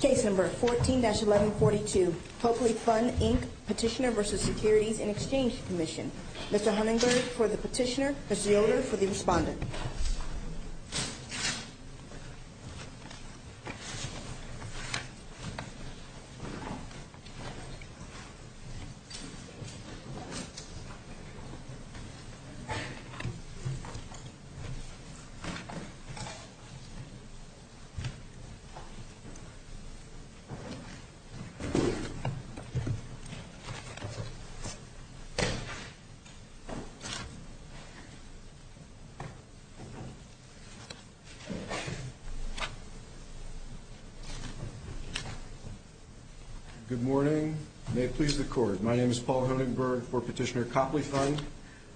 Case number 14-1142, Copley Fund, Inc., Petitioner v. Securities and Exchange Commission. Mr. Hunenberg for the petitioner, Mr. Yoder for the respondent. Good morning. May it please the Court. My name is Paul Hunenberg for Petitioner Copley Fund.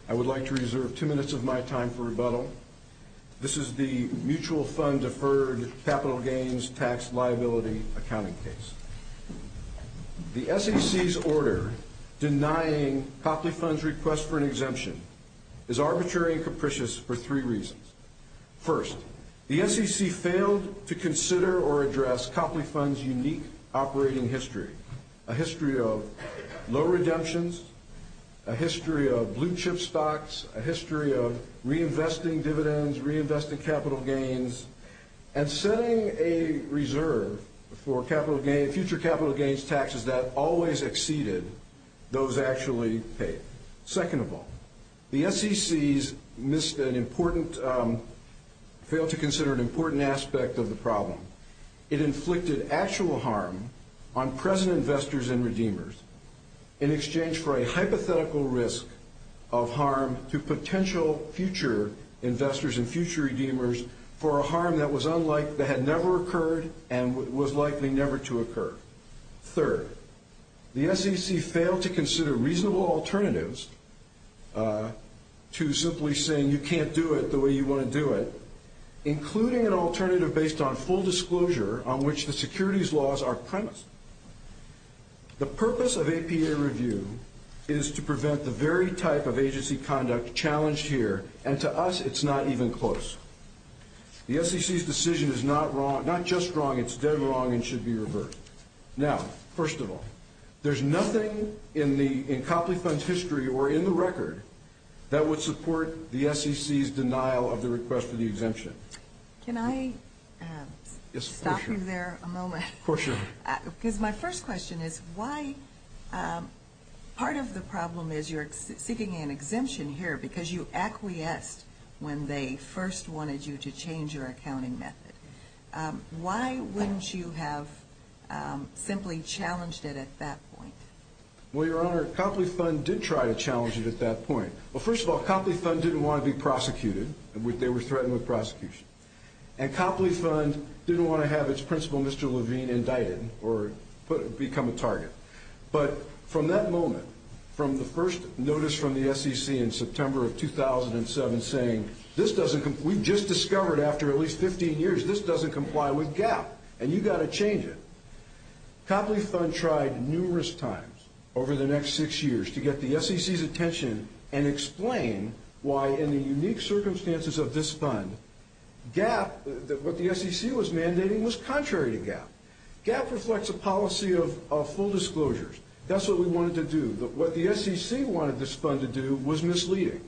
I would like to reserve two minutes of my time for rebuttal. This is the Mutual Reliability Accounting case. The SEC's order denying Copley Fund's request for an exemption is arbitrary and capricious for three reasons. First, the SEC failed to consider or address Copley Fund's unique operating history, a history of low redemptions, a history of blue chip stocks, a history of reinvesting dividends, reinvesting capital gains, and setting a reserve for future capital gains taxes that always exceeded those actually paid. Second of all, the SEC failed to consider an important aspect of the problem. It inflicted actual harm on present investors and redeemers in exchange for a hypothetical risk of harm to potential future investors and future redeemers for a harm that was unlike, that had never occurred and was likely never to occur. Third, the SEC failed to consider reasonable alternatives to simply saying you can't do it the way you want to do it, including an alternative based on full disclosure on which the securities laws are premised. The purpose of APA review is to prevent the very type of agency conduct challenged here, and to us it's not even close. The SEC's decision is not wrong, not just wrong, it's dead wrong and should be reversed. Now, first of all, there's nothing in the, in Copley Fund's history or in the record that would support the SEC's denial of the request for the exemption. Can I stop you there a moment? Of course you can. Because my first question is why, part of the problem is you're seeking an exemption here because you acquiesced when they first wanted you to change your accounting method. Why wouldn't you have simply challenged it at that point? Well, Your Honor, Copley Fund did try to challenge it at that point. Well, first of all, Copley Fund didn't want to be prosecuted. They were threatened with prosecution. And Copley Fund didn't want to have its principal, Mr. Levine, indicted or become a target. But from that moment, from the first notice from the SEC in September of 2007 saying, this doesn't, we've just discovered after at least 15 years this doesn't comply with GAAP and you've got to change it. Copley Fund tried numerous times over the next six years to get the SEC's attention and explain why in the unique circumstances of this fund, GAAP, what the SEC was mandating was contrary to GAAP. GAAP reflects a policy of full disclosures. That's what we wanted to do. What the SEC wanted this fund to do was misleading.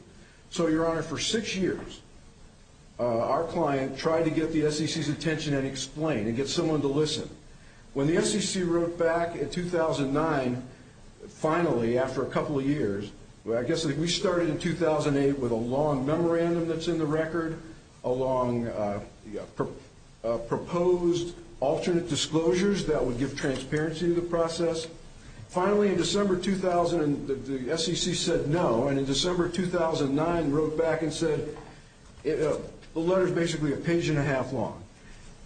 So, Your Honor, for six years, our client tried to get the SEC's attention and explain and get someone to listen. When the SEC wrote back in 2009, finally, after a couple of years, I guess we started in 2008 with a long memorandum that's in the record, a long proposed alternate disclosures that would give transparency to the process. Finally, in December 2000, the SEC said no. And in December 2009, wrote back and said, the letter's basically a page and a half long.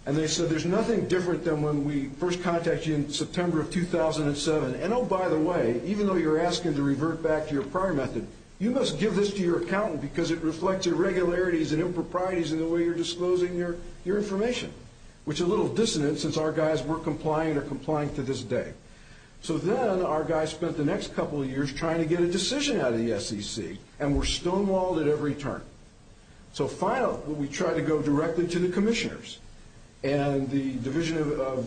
And they said, there's nothing different than when we first contacted you in September of 2007. And, oh, by the way, even though you're asking to revert back to your prior method, you must give this to your accountant because it reflects irregularities and improprieties in the way you're disclosing your information, which is a little dissonant since our guys weren't complying or are complying to this day. So then our guys spent the next couple of years trying to get a decision out of the SEC, and were stonewalled at every turn. So finally, we tried to go directly to the commissioners. And the division of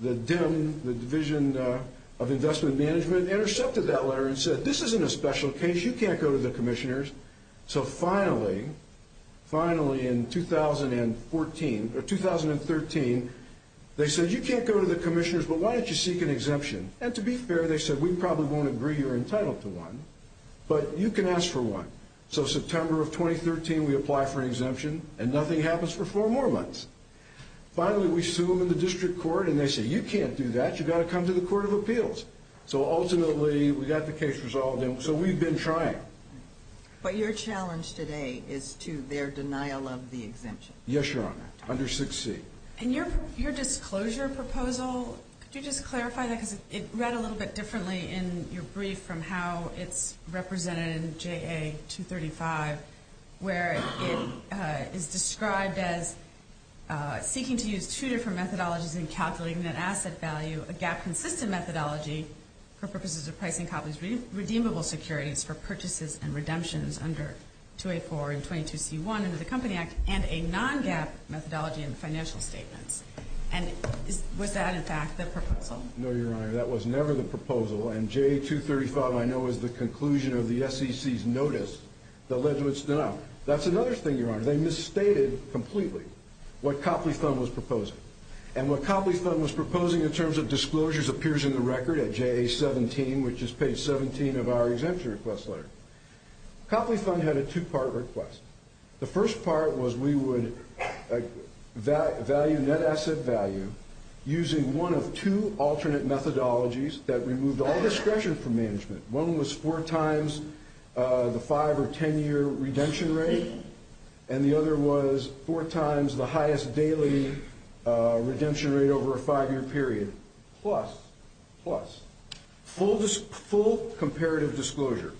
the DIM, the Division of Investment Management, intercepted that letter and said, this isn't a special case. You can't go to the commissioners. So finally, finally in 2013, they said, you can't go to the commissioners, but why don't you seek an exemption? And to be fair, they said, we probably won't agree you're entitled to one, but you can ask for one. So September of 2013, we apply for an exemption, and nothing happens for four more months. Finally, we sue them in the district court, and they say, you can't do that. You've got to come to the Court of Appeals. So ultimately, we got the case resolved, and so we've been trying. But your challenge today is to their denial of the exemption. Yes, Your Honor, under 6C. And your disclosure proposal, could you just clarify that? Because it read a little bit differently in your brief from how it's represented in JA 235, where it is described as seeking to use two different methodologies in calculating an asset value, a gap-consistent methodology for purposes of pricing Copley's redeemable securities for purchases and redemptions under 284 and 22C1 under the Company Act, and a non-gap methodology in the financial statements. And was that, in fact, the proposal? No, Your Honor, that was never the proposal. And JA 235, I know, is the conclusion of the SEC's notice that led to its denial. That's another thing, Your Honor. They misstated completely what Copley's fund was proposing. And what Copley's fund was proposing in terms of disclosures appears in the record at JA 17, which is page 17 of our exemption request letter. Copley's fund had a two-part request. The first part was we would value net asset value using one of two alternate methodologies that removed all discretion from management. One was four times the five- or ten-year redemption rate, and the other was four times the highest daily redemption rate over a five-year period, plus full comparative disclosure.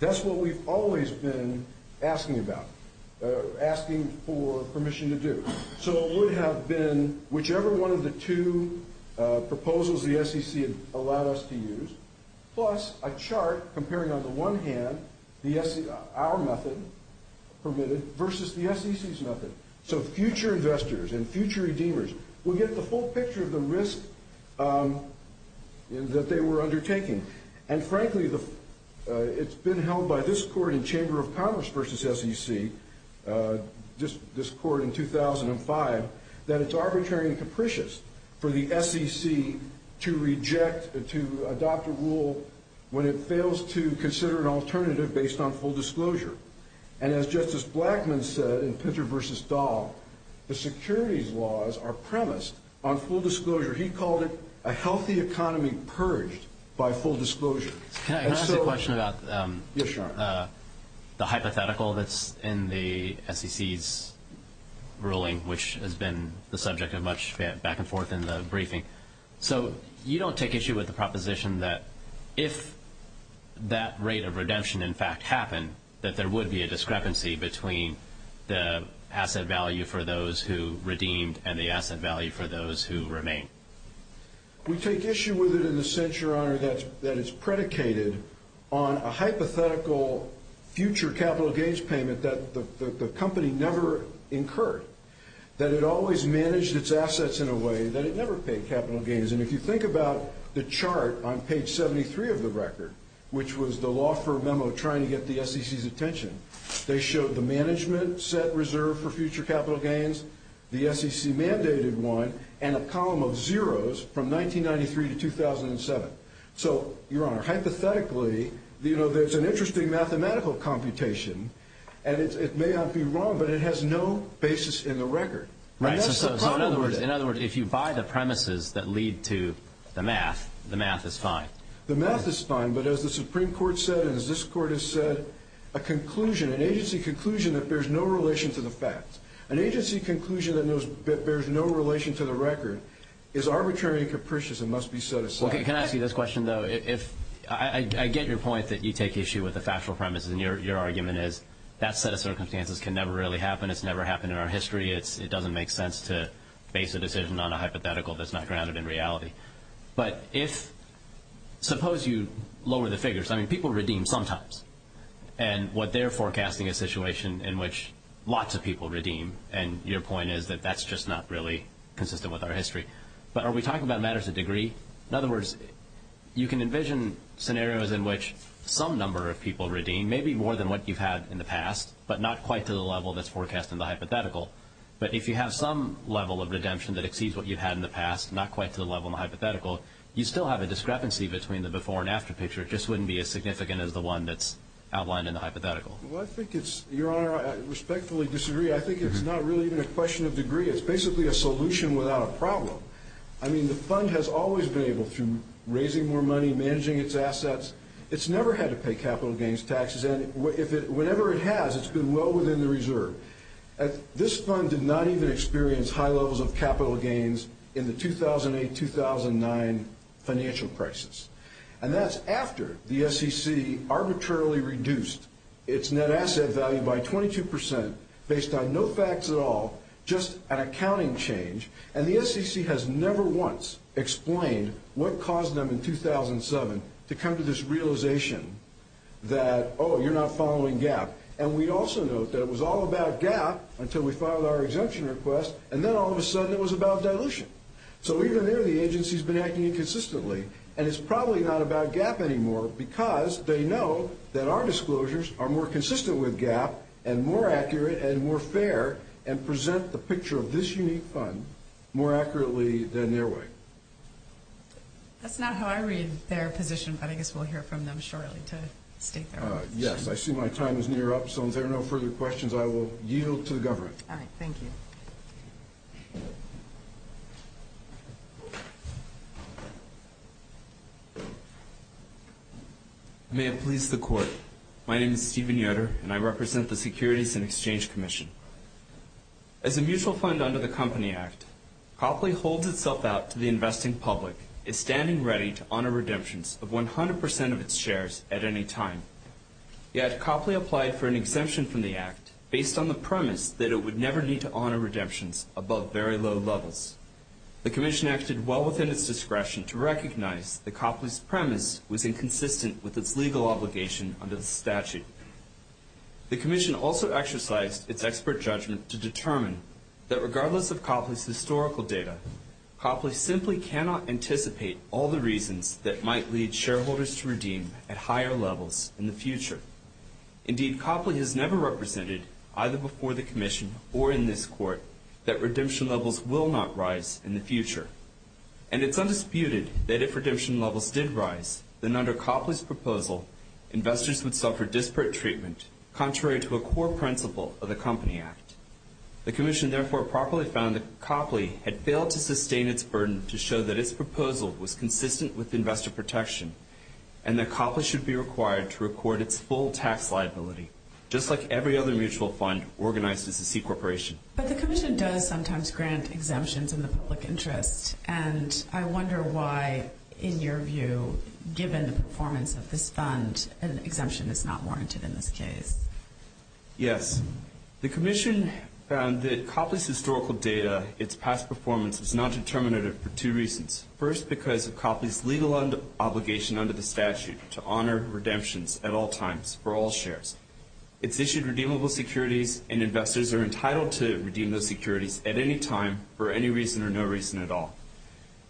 That's what we've always been asking about, asking for permission to do. So it would have been whichever one of the two proposals the SEC had allowed us to use, plus a chart comparing, on the one hand, our method permitted versus the SEC's method. So future investors and future redeemers would get the full picture of the risk that they were undertaking. And, frankly, it's been held by this court in Chamber of Commerce versus SEC, this court in 2005, that it's arbitrary and capricious for the SEC to reject, to adopt a rule when it fails to consider an alternative based on full disclosure. And as Justice Blackmun said in Pinter versus Dahl, the securities laws are premised on full disclosure. He called it a healthy economy purged by full disclosure. Can I ask a question about the hypothetical that's in the SEC's ruling, which has been the subject of much back and forth in the briefing? So you don't take issue with the proposition that if that rate of redemption, in fact, happened, that there would be a discrepancy between the asset value for those who redeemed and the asset value for those who remain? We take issue with it in the sense, Your Honor, that it's predicated on a hypothetical future capital gains payment that the company never incurred, that it always managed its assets in a way that it never paid capital gains. And if you think about the chart on page 73 of the record, which was the law firm memo trying to get the SEC's attention, they showed the management set reserved for future capital gains, the SEC mandated one, and a column of zeros from 1993 to 2007. So, Your Honor, hypothetically, you know, there's an interesting mathematical computation and it may not be wrong, but it has no basis in the record. Right, so in other words, if you buy the premises that lead to the math, the math is fine. The math is fine, but as the Supreme Court said and as this Court has said, a conclusion, an agency conclusion that bears no relation to the facts, an agency conclusion that bears no relation to the record is arbitrary and capricious and must be set aside. Okay, can I ask you this question, though? I get your point that you take issue with the factual premises and your argument is that set of circumstances can never really happen, it's never happened in our history, it doesn't make sense to base a decision on a hypothetical that's not grounded in reality. But if, suppose you lower the figures, I mean, people redeem sometimes, and what they're forecasting is a situation in which lots of people redeem, and your point is that that's just not really consistent with our history. But are we talking about matters of degree? In other words, you can envision scenarios in which some number of people redeem, maybe more than what you've had in the past, but not quite to the level that's forecast in the hypothetical. But if you have some level of redemption that exceeds what you've had in the past, not quite to the level in the hypothetical, you still have a discrepancy between the before and after picture. It just wouldn't be as significant as the one that's outlined in the hypothetical. Well, I think it's, Your Honor, I respectfully disagree. I think it's not really even a question of degree. It's basically a solution without a problem. I mean, the fund has always been able, through raising more money, managing its assets, it's never had to pay capital gains taxes. And whenever it has, it's been well within the reserve. This fund did not even experience high levels of capital gains in the 2008-2009 financial crisis. And that's after the SEC arbitrarily reduced its net asset value by 22 percent, based on no facts at all, just an accounting change. And the SEC has never once explained what caused them in 2007 to come to this realization that, oh, you're not following GAAP. And we also note that it was all about GAAP until we filed our exemption request, and then all of a sudden it was about dilution. So even there, the agency's been acting inconsistently. And it's probably not about GAAP anymore because they know that our disclosures are more consistent with GAAP and more accurate and more fair and present the picture of this unique fund more accurately than their way. That's not how I read their position, but I guess we'll hear from them shortly to state their position. Yes. I see my time is near up, so if there are no further questions, I will yield to the government. All right. Thank you. May it please the Court. My name is Stephen Yoder, and I represent the Securities and Exchange Commission. As a mutual fund under the Company Act, Copley holds itself out to the investing public as standing ready to honor redemptions of 100 percent of its shares at any time. Yet Copley applied for an exemption from the Act based on the premise that it would never need to honor redemptions above very low levels. The Commission acted well within its discretion to recognize that Copley's premise was inconsistent with its legal obligation under the statute. The Commission also exercised its expert judgment to determine that regardless of Copley's historical data, Copley simply cannot anticipate all the reasons that might lead shareholders to redeem at higher levels in the future. Indeed, Copley has never represented, either before the Commission or in this Court, that redemption levels will not rise in the future. And it's undisputed that if redemption levels did rise, then under Copley's proposal, investors would suffer disparate treatment contrary to a core principle of the Company Act. The Commission therefore properly found that Copley had failed to sustain its burden to show that its proposal was consistent with investor protection and that Copley should be required to record its full tax liability, just like every other mutual fund organized as a C Corporation. But the Commission does sometimes grant exemptions in the public interest. And I wonder why, in your view, given the performance of this fund, an exemption is not warranted in this case. Yes. The Commission found that Copley's historical data, its past performance, is not determinative for two reasons. First, because of Copley's legal obligation under the statute to honor redemptions at all times for all shares. It's issued redeemable securities, and investors are entitled to redeem those securities at any time for any reason or no reason at all.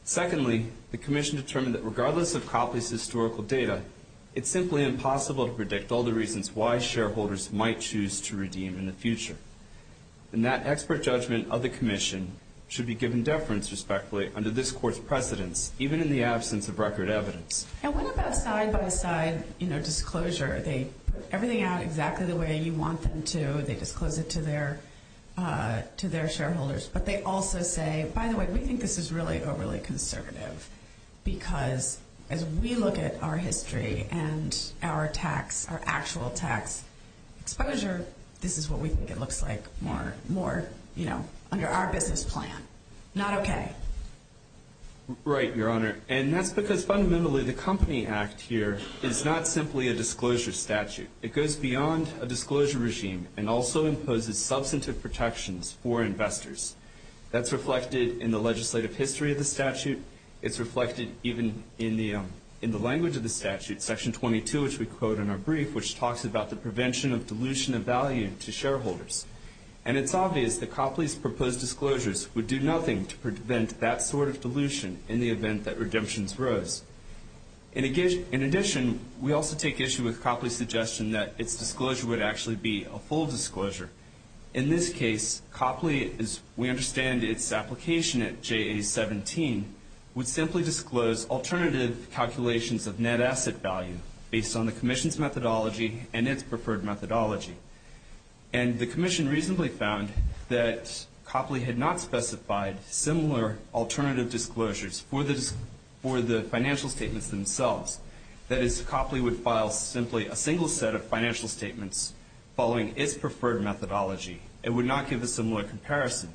Secondly, the Commission determined that regardless of Copley's historical data, it's simply impossible to predict all the reasons why shareholders might choose to redeem in the future. And that expert judgment of the Commission should be given deference, respectfully, under this Court's precedence, even in the absence of record evidence. And what about side-by-side, you know, disclosure? They put everything out exactly the way you want them to. They disclose it to their shareholders. But they also say, by the way, we think this is really overly conservative, because as we look at our history and our tax, our actual tax exposure, this is what we think it looks like more, you know, under our business plan. Not okay. Right, Your Honor. And that's because fundamentally the Company Act here is not simply a disclosure statute. It goes beyond a disclosure regime and also imposes substantive protections for investors. That's reflected in the legislative history of the statute. It's reflected even in the language of the statute, Section 22, which we quote in our brief, which talks about the prevention of dilution of value to shareholders. And it's obvious that Copley's proposed disclosures would do nothing to prevent that sort of dilution in the event that redemptions rose. In addition, we also take issue with Copley's suggestion that its disclosure would actually be a full disclosure. In this case, Copley, as we understand its application at JA-17, would simply disclose alternative calculations of net asset value, based on the Commission's methodology and its preferred methodology. And the Commission reasonably found that Copley had not specified similar alternative disclosures for the financial statements themselves. That is, Copley would file simply a single set of financial statements following its preferred methodology. It would not give a similar comparison.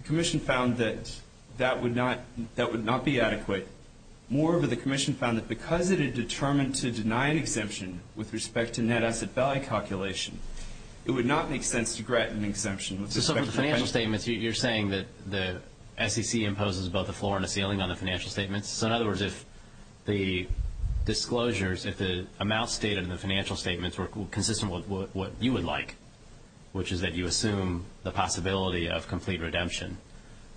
The Commission found that that would not be adequate. Moreover, the Commission found that because it had determined to deny an exemption with respect to net asset value calculation, it would not make sense to grant an exemption with respect to the financial statements. So from the financial statements, you're saying that the SEC imposes both a floor and a ceiling on the financial statements? So in other words, if the disclosures, if the amounts stated in the financial statements were consistent with what you would like, which is that you assume the possibility of complete redemption,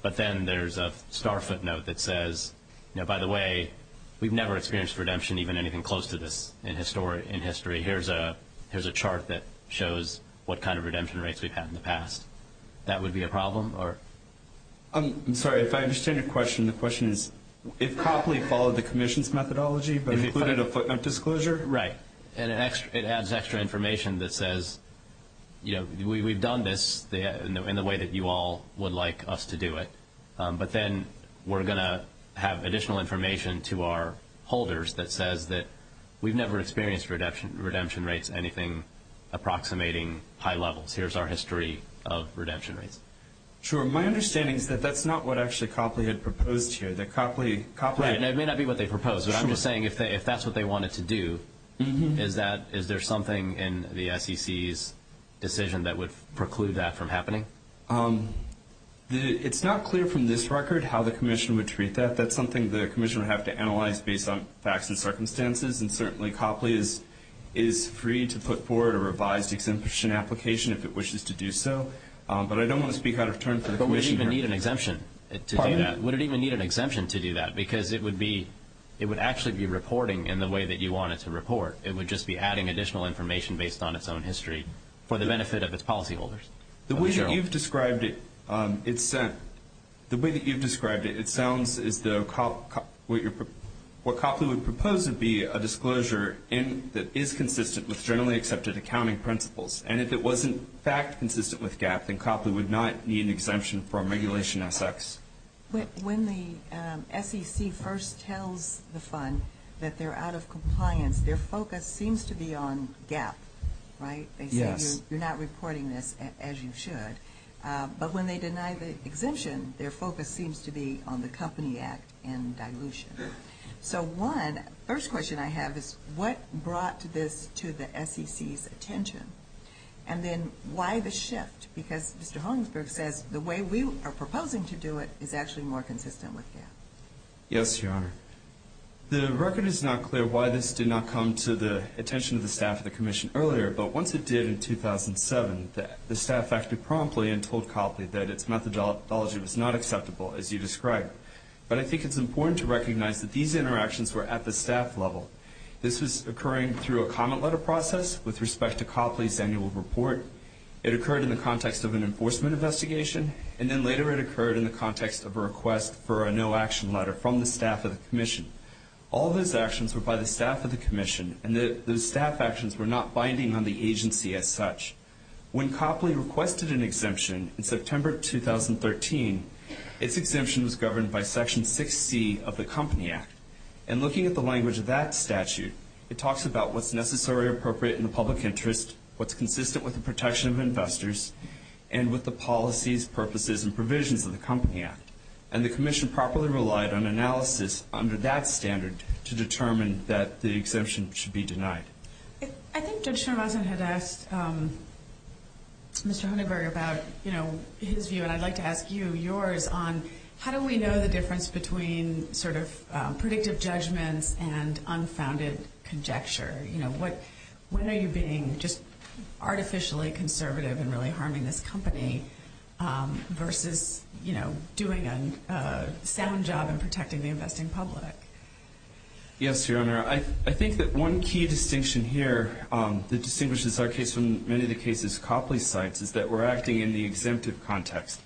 but then there's a star footnote that says, you know, by the way, we've never experienced redemption, even anything close to this in history. Here's a chart that shows what kind of redemption rates we've had in the past. That would be a problem? I'm sorry, if I understand your question, the question is, if Copley followed the Commission's methodology but included a footnote disclosure? Right. And it adds extra information that says, you know, we've done this in the way that you all would like us to do it. But then we're going to have additional information to our holders that says that we've never experienced redemption rates, anything approximating high levels. Here's our history of redemption rates. Sure. My understanding is that that's not what actually Copley had proposed here, that Copley – Right, and it may not be what they proposed, but I'm just saying if that's what they wanted to do, is there something in the SEC's decision that would preclude that from happening? It's not clear from this record how the Commission would treat that. That's something the Commission would have to analyze based on facts and circumstances, and certainly Copley is free to put forward a revised exemption application if it wishes to do so. But I don't want to speak out of turn for the Commission here. But would it even need an exemption to do that? Would it even need an exemption to do that? Because it would actually be reporting in the way that you want it to report. It would just be adding additional information based on its own history for the benefit of its policyholders. The way that you've described it, it sounds as though what Copley would propose would be a disclosure that is consistent with generally accepted accounting principles. And if it wasn't in fact consistent with GAAP, then Copley would not need an exemption from Regulation SX. When the SEC first tells the Fund that they're out of compliance, their focus seems to be on GAAP, right? Yes. You're not reporting this as you should. But when they deny the exemption, their focus seems to be on the Company Act and dilution. So one first question I have is what brought this to the SEC's attention? And then why the shift? Because Mr. Hollingsburg says the way we are proposing to do it is actually more consistent with GAAP. Yes, Your Honor. The record is not clear why this did not come to the attention of the staff of the Commission earlier, but once it did in 2007, the staff acted promptly and told Copley that its methodology was not acceptable, as you described. But I think it's important to recognize that these interactions were at the staff level. This was occurring through a comment letter process with respect to Copley's annual report. It occurred in the context of an enforcement investigation, and then later it occurred in the context of a request for a no-action letter from the staff of the Commission. All of those actions were by the staff of the Commission, and those staff actions were not binding on the agency as such. When Copley requested an exemption in September 2013, its exemption was governed by Section 6C of the Company Act. And looking at the language of that statute, it talks about what's necessary or appropriate in the public interest, what's consistent with the protection of investors, and with the policies, purposes, and provisions of the Company Act. And the Commission properly relied on analysis under that standard to determine that the exemption should be denied. I think Judge Schramassen had asked Mr. Hunenberg about, you know, his view, and I'd like to ask you yours on how do we know the difference between sort of predictive judgments and unfounded conjecture? You know, when are you being just artificially conservative and really harming this company versus, you know, doing a sound job in protecting the investing public? Yes, Your Honor. I think that one key distinction here that distinguishes our case from many of the cases Copley cites is that we're acting in the exemptive context.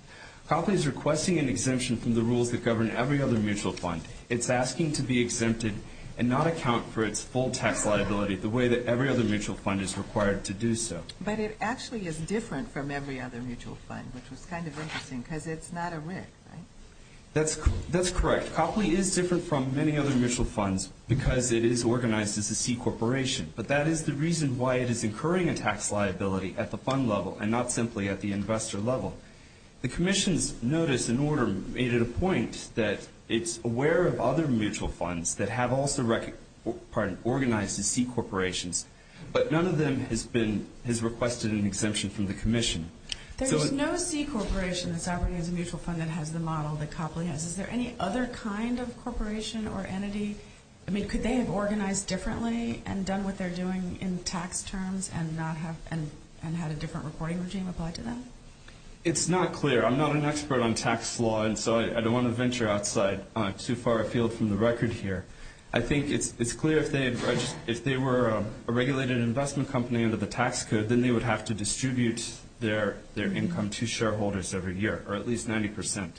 Copley is requesting an exemption from the rules that govern every other mutual fund. It's asking to be exempted and not account for its full tax liability the way that every other mutual fund is required to do so. But it actually is different from every other mutual fund, which was kind of interesting because it's not a WIC, right? That's correct. Copley is different from many other mutual funds because it is organized as a C corporation, but that is the reason why it is incurring a tax liability at the fund level and not simply at the investor level. The Commission's notice and order made it a point that it's aware of other mutual funds that have also organized as C corporations, but none of them has requested an exemption from the Commission. There's no C corporation that's operating as a mutual fund that has the model that Copley has. Is there any other kind of corporation or entity? I mean, could they have organized differently and done what they're doing in tax terms and had a different reporting regime applied to them? It's not clear. I'm not an expert on tax law, and so I don't want to venture outside too far afield from the record here. I think it's clear if they were a regulated investment company under the tax code, then they would have to distribute their income to shareholders every year, or at least 90%.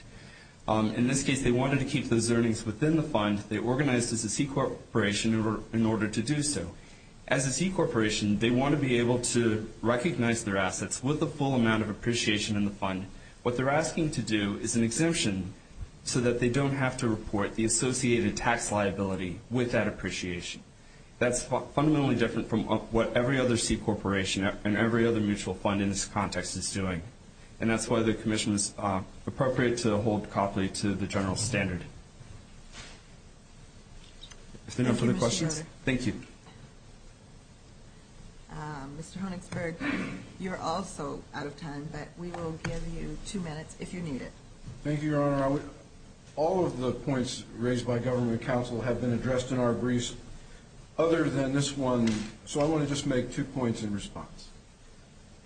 In this case, they wanted to keep those earnings within the fund. They organized as a C corporation in order to do so. As a C corporation, they want to be able to recognize their assets with a full amount of appreciation in the fund. What they're asking to do is an exemption so that they don't have to report the associated tax liability with that appreciation. That's fundamentally different from what every other C corporation and every other mutual fund in this context is doing, and that's why the Commission is appropriate to hold Copley to the general standard. Is there no further questions? Thank you. Mr. Honigsberg, you're also out of time, but we will give you two minutes if you need it. Thank you, Your Honor. All of the points raised by government counsel have been addressed in our briefs other than this one, so I want to just make two points in response.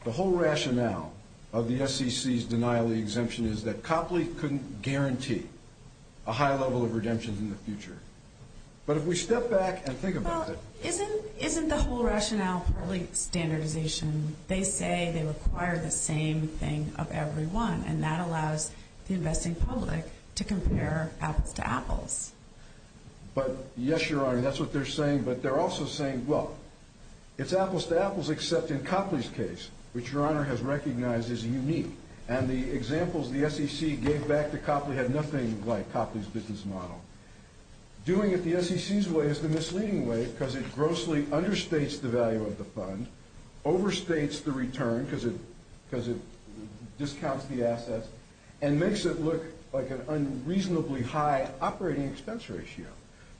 The whole rationale of the SEC's denial of the exemption is that Copley couldn't guarantee a high level of redemption in the future. But if we step back and think about it. Well, isn't the whole rationale partly standardization? They say they require the same thing of everyone, and that allows the investing public to compare apples to apples. But, yes, Your Honor, that's what they're saying, but they're also saying, well, it's apples to apples except in Copley's case, which Your Honor has recognized as unique, and the examples the SEC gave back to Copley had nothing like Copley's business model. Doing it the SEC's way is the misleading way because it grossly understates the value of the fund, overstates the return because it discounts the assets, and makes it look like an unreasonably high operating expense ratio.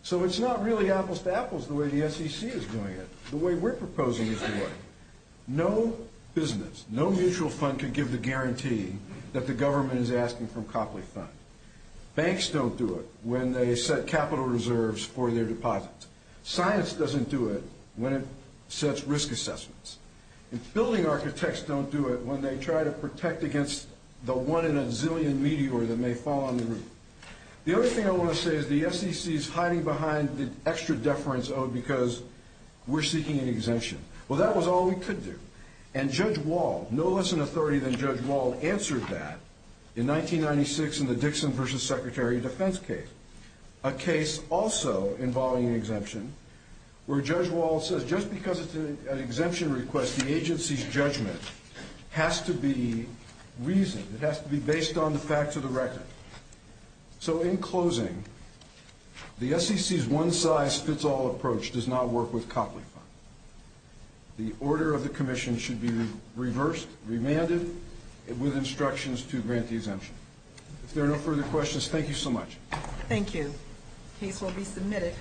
So it's not really apples to apples the way the SEC is doing it. The way we're proposing is the way. No business, no mutual fund can give the guarantee that the government is asking from Copley Fund. Banks don't do it when they set capital reserves for their deposits. Science doesn't do it when it sets risk assessments. And building architects don't do it when they try to protect against the one in a zillion meteor that may fall on the roof. The other thing I want to say is the SEC is hiding behind the extra deference owed because we're seeking an exemption. Well, that was all we could do, and Judge Wald, no less an authority than Judge Wald, answered that in 1996 in the Dixon v. Secretary of Defense case, a case also involving an exemption, where Judge Wald says just because it's an exemption request, the agency's judgment has to be reasoned. It has to be based on the facts of the record. So in closing, the SEC's one-size-fits-all approach does not work with Copley Fund. The order of the commission should be reversed, remanded, with instructions to grant the exemption. If there are no further questions, thank you so much. Thank you. Case will be submitted.